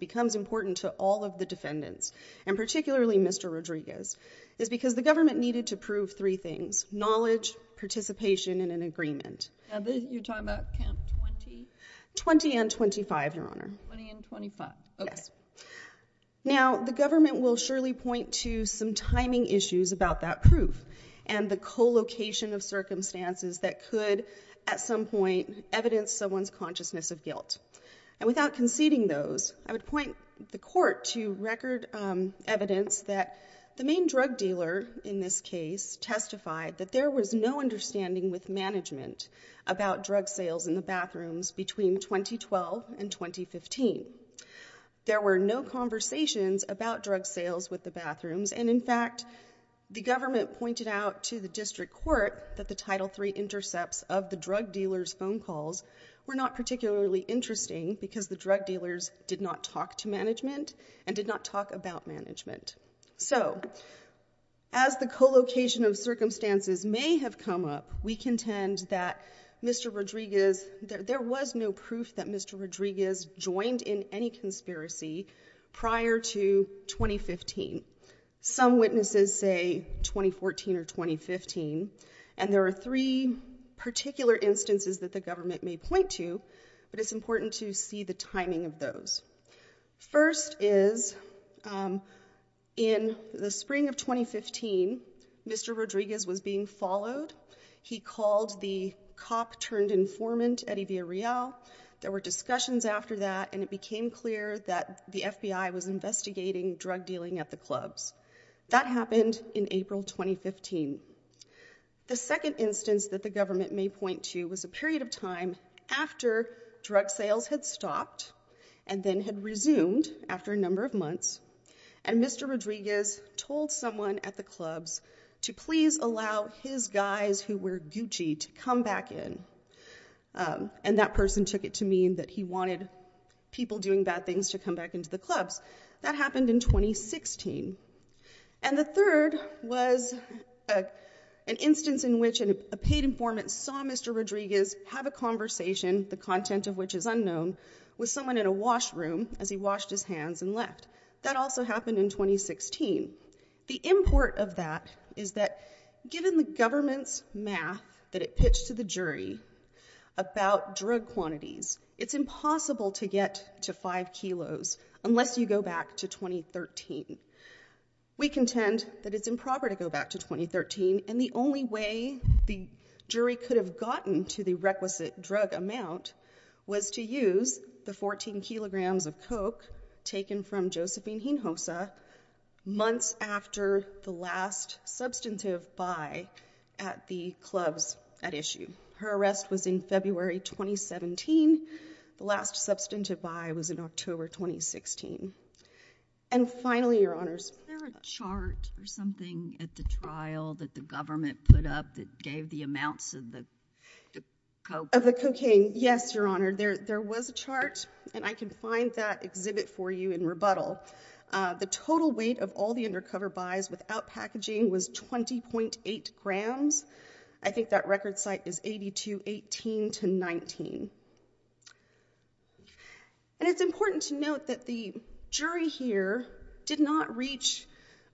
becomes important to all of the defendants, and particularly Mr. Rodriguez, is because the government needed to prove three things, knowledge, participation, and an agreement. You're talking about count 20? 20 and 25, Your Honor. 20 and 25. Okay. Now, the government will surely point to some timing issues about that proof and the co-location of circumstances that could, at some point, evidence someone's consciousness of guilt. And without conceding those, I would point the court to record evidence that the main drug dealer in this case testified that there was no understanding with management about drug sales in the bathrooms between 2012 and 2015. There were no conversations about drug sales with the bathrooms, and in fact, the government pointed out to the district court that the Title III intercepts of the drug dealer's phone calls were not particularly interesting because the drug dealers did not talk to management and did not talk about management. So, as the co-location of circumstances may have come up, we contend that Mr. Rodriguez, there was no proof that Mr. Rodriguez joined in any conspiracy prior to 2015. Some witnesses say 2014 or 2015, and there are three particular instances that the government may point to, but it's important to see the timing of those. First is in the spring of 2015, Mr. Rodriguez was being followed. He called the cop-turned-informant Eddie Villarreal. There were discussions after that, and it became clear that the FBI was investigating drug dealing at the clubs. That happened in April 2015. The second instance that the government may point to was a period of time after drug sales had stopped and then had resumed after a number of months, and Mr. Rodriguez told someone at the clubs to please allow his guys who were Gucci to come back in. And that person took it to mean that he wanted people doing bad things to come back into the clubs. That happened in 2016. And the third was an instance in which a paid informant saw Mr. Rodriguez have a conversation, the content of which is unknown, with someone in a washroom as he washed his hands and left. That also happened in 2016. The import of that is that given the government's math that it pitched to the jury about drug quantities, it's impossible to get to 5 kilos unless you go back to 2013. We contend that it's improper to go back to 2013, and the only way the jury could have gotten to the requisite drug amount was to use the 14 kilograms of coke taken from Josephine Hinojosa months after the last substantive buy at the clubs at issue. Her arrest was in February 2017. The last substantive buy was in October 2016. And finally, Your Honors, Is there a chart or something at the trial that the government put up that gave the amounts of the coke? Of the cocaine, yes, Your Honor. There was a chart, and I can find that exhibit for you in rebuttal. The total weight of all the undercover buys without packaging was 20.8 grams. I think that record site is 82.18 to 19. And it's important to note that the jury here did not reach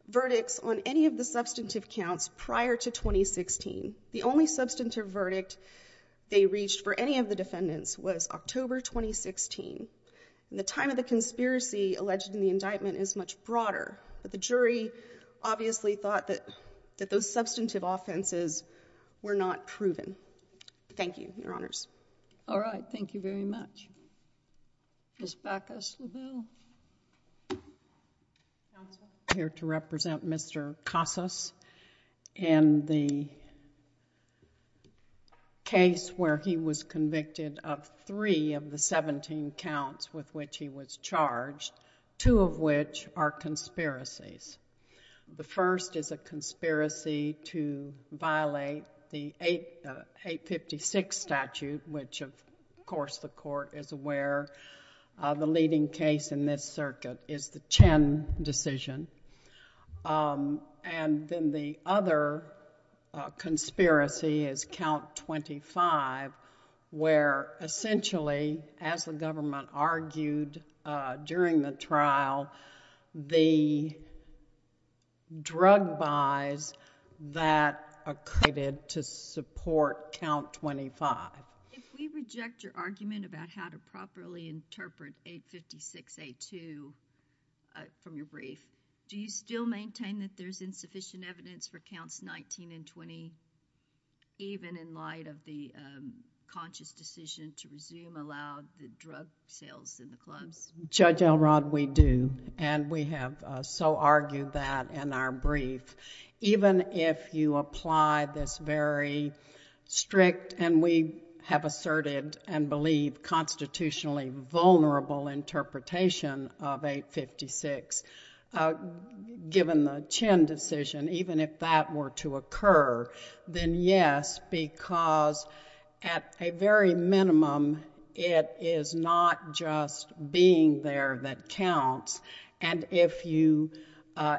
verdicts on any of the substantive counts prior to 2016. The only substantive verdict they reached for any of the defendants was October 2016. And the time of the conspiracy alleged in the indictment is much broader, but the jury obviously thought that those substantive offenses were not proven. Thank you, Your Honors. All right. Thank you very much. Ms. Bacchus-Leville. Counsel, I'm here to represent Mr. Casas in the case where he was convicted of the three of the 17 counts with which he was charged, two of which are conspiracies. The first is a conspiracy to violate the 856 statute, which, of course, the court is aware of the leading case in this circuit is the Chen decision. And then the other conspiracy is count 25, where essentially, as the government argued during the trial, the drug buys that are created to support count 25. If we reject your argument about how to properly interpret 856.82 from your brief, do you still have a conscious decision to resume aloud the drug sales in the clubs? Judge Elrod, we do. And we have so argued that in our brief. Even if you apply this very strict, and we have asserted and believe constitutionally vulnerable interpretation of 856, given the Chen decision, even if that were to occur, then yes, because at that point a very minimum, it is not just being there that counts. And if you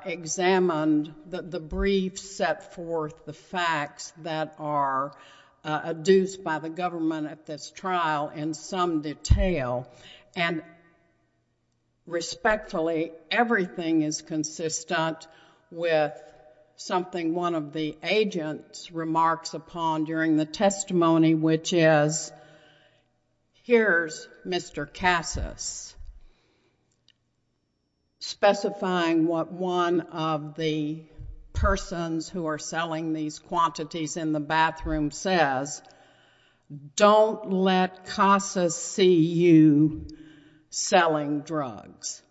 examined the brief set forth the facts that are adduced by the government at this trial in some detail, and respectfully, everything is consistent with something one of the agents remarks upon during the testimony, which is, here's Mr. Casas, specifying what one of the persons who are selling these quantities in the bathroom says, don't let Casas see you selling drugs.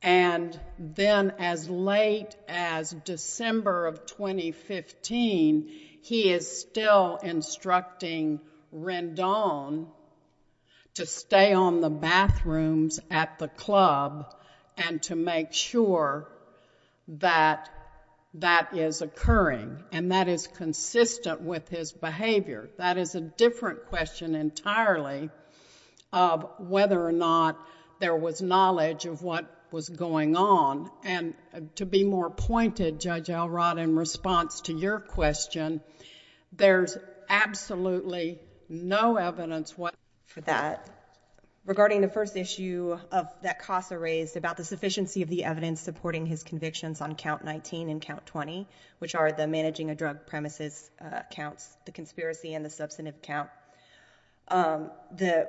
And then as late as December of 2015, he is still instructing Rendon to stay on the bathrooms at the club and to make sure that that is occurring. And that is consistent with his knowledge of what was going on. And to be more pointed, Judge Elrod, in response to your question, there's absolutely no evidence for that. Regarding the first issue that Casas raised about the sufficiency of the evidence supporting his convictions on count 19 and count 20, which are the managing a drug premises counts, the conspiracy and the substantive count,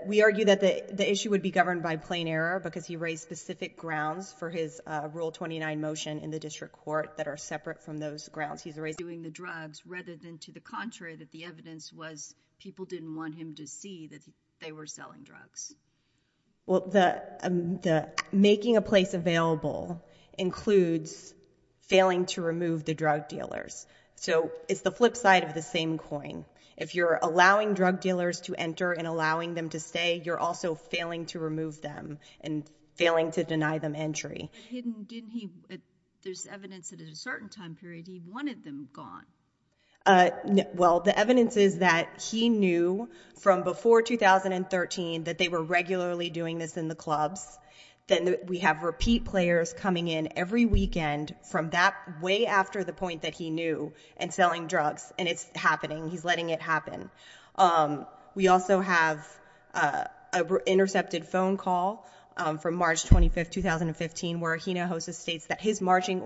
we argue that the issue would be governed by plain error, because he raised specific grounds for his Rule 29 motion in the district court that are separate from those grounds. He's raised doing the drugs rather than to the contrary that the evidence was people didn't want him to see that they were selling drugs. Well, the making a place available includes failing to remove the drug dealers. So it's the flip side of the same coin. If you're allowing drug dealers to enter and allowing them to stay, you're also failing to remove them and failing to deny them entry. Didn't he, there's evidence that at a certain time period he wanted them gone. Well, the evidence is that he knew from before 2013 that they were regularly doing this in the clubs. Then we have repeat players coming in every weekend from that way after the point that he knew and selling drugs and it's happening. He's letting it happen. We also have a intercepted phone call from March 25th, 2015, where he now hosted states that his marching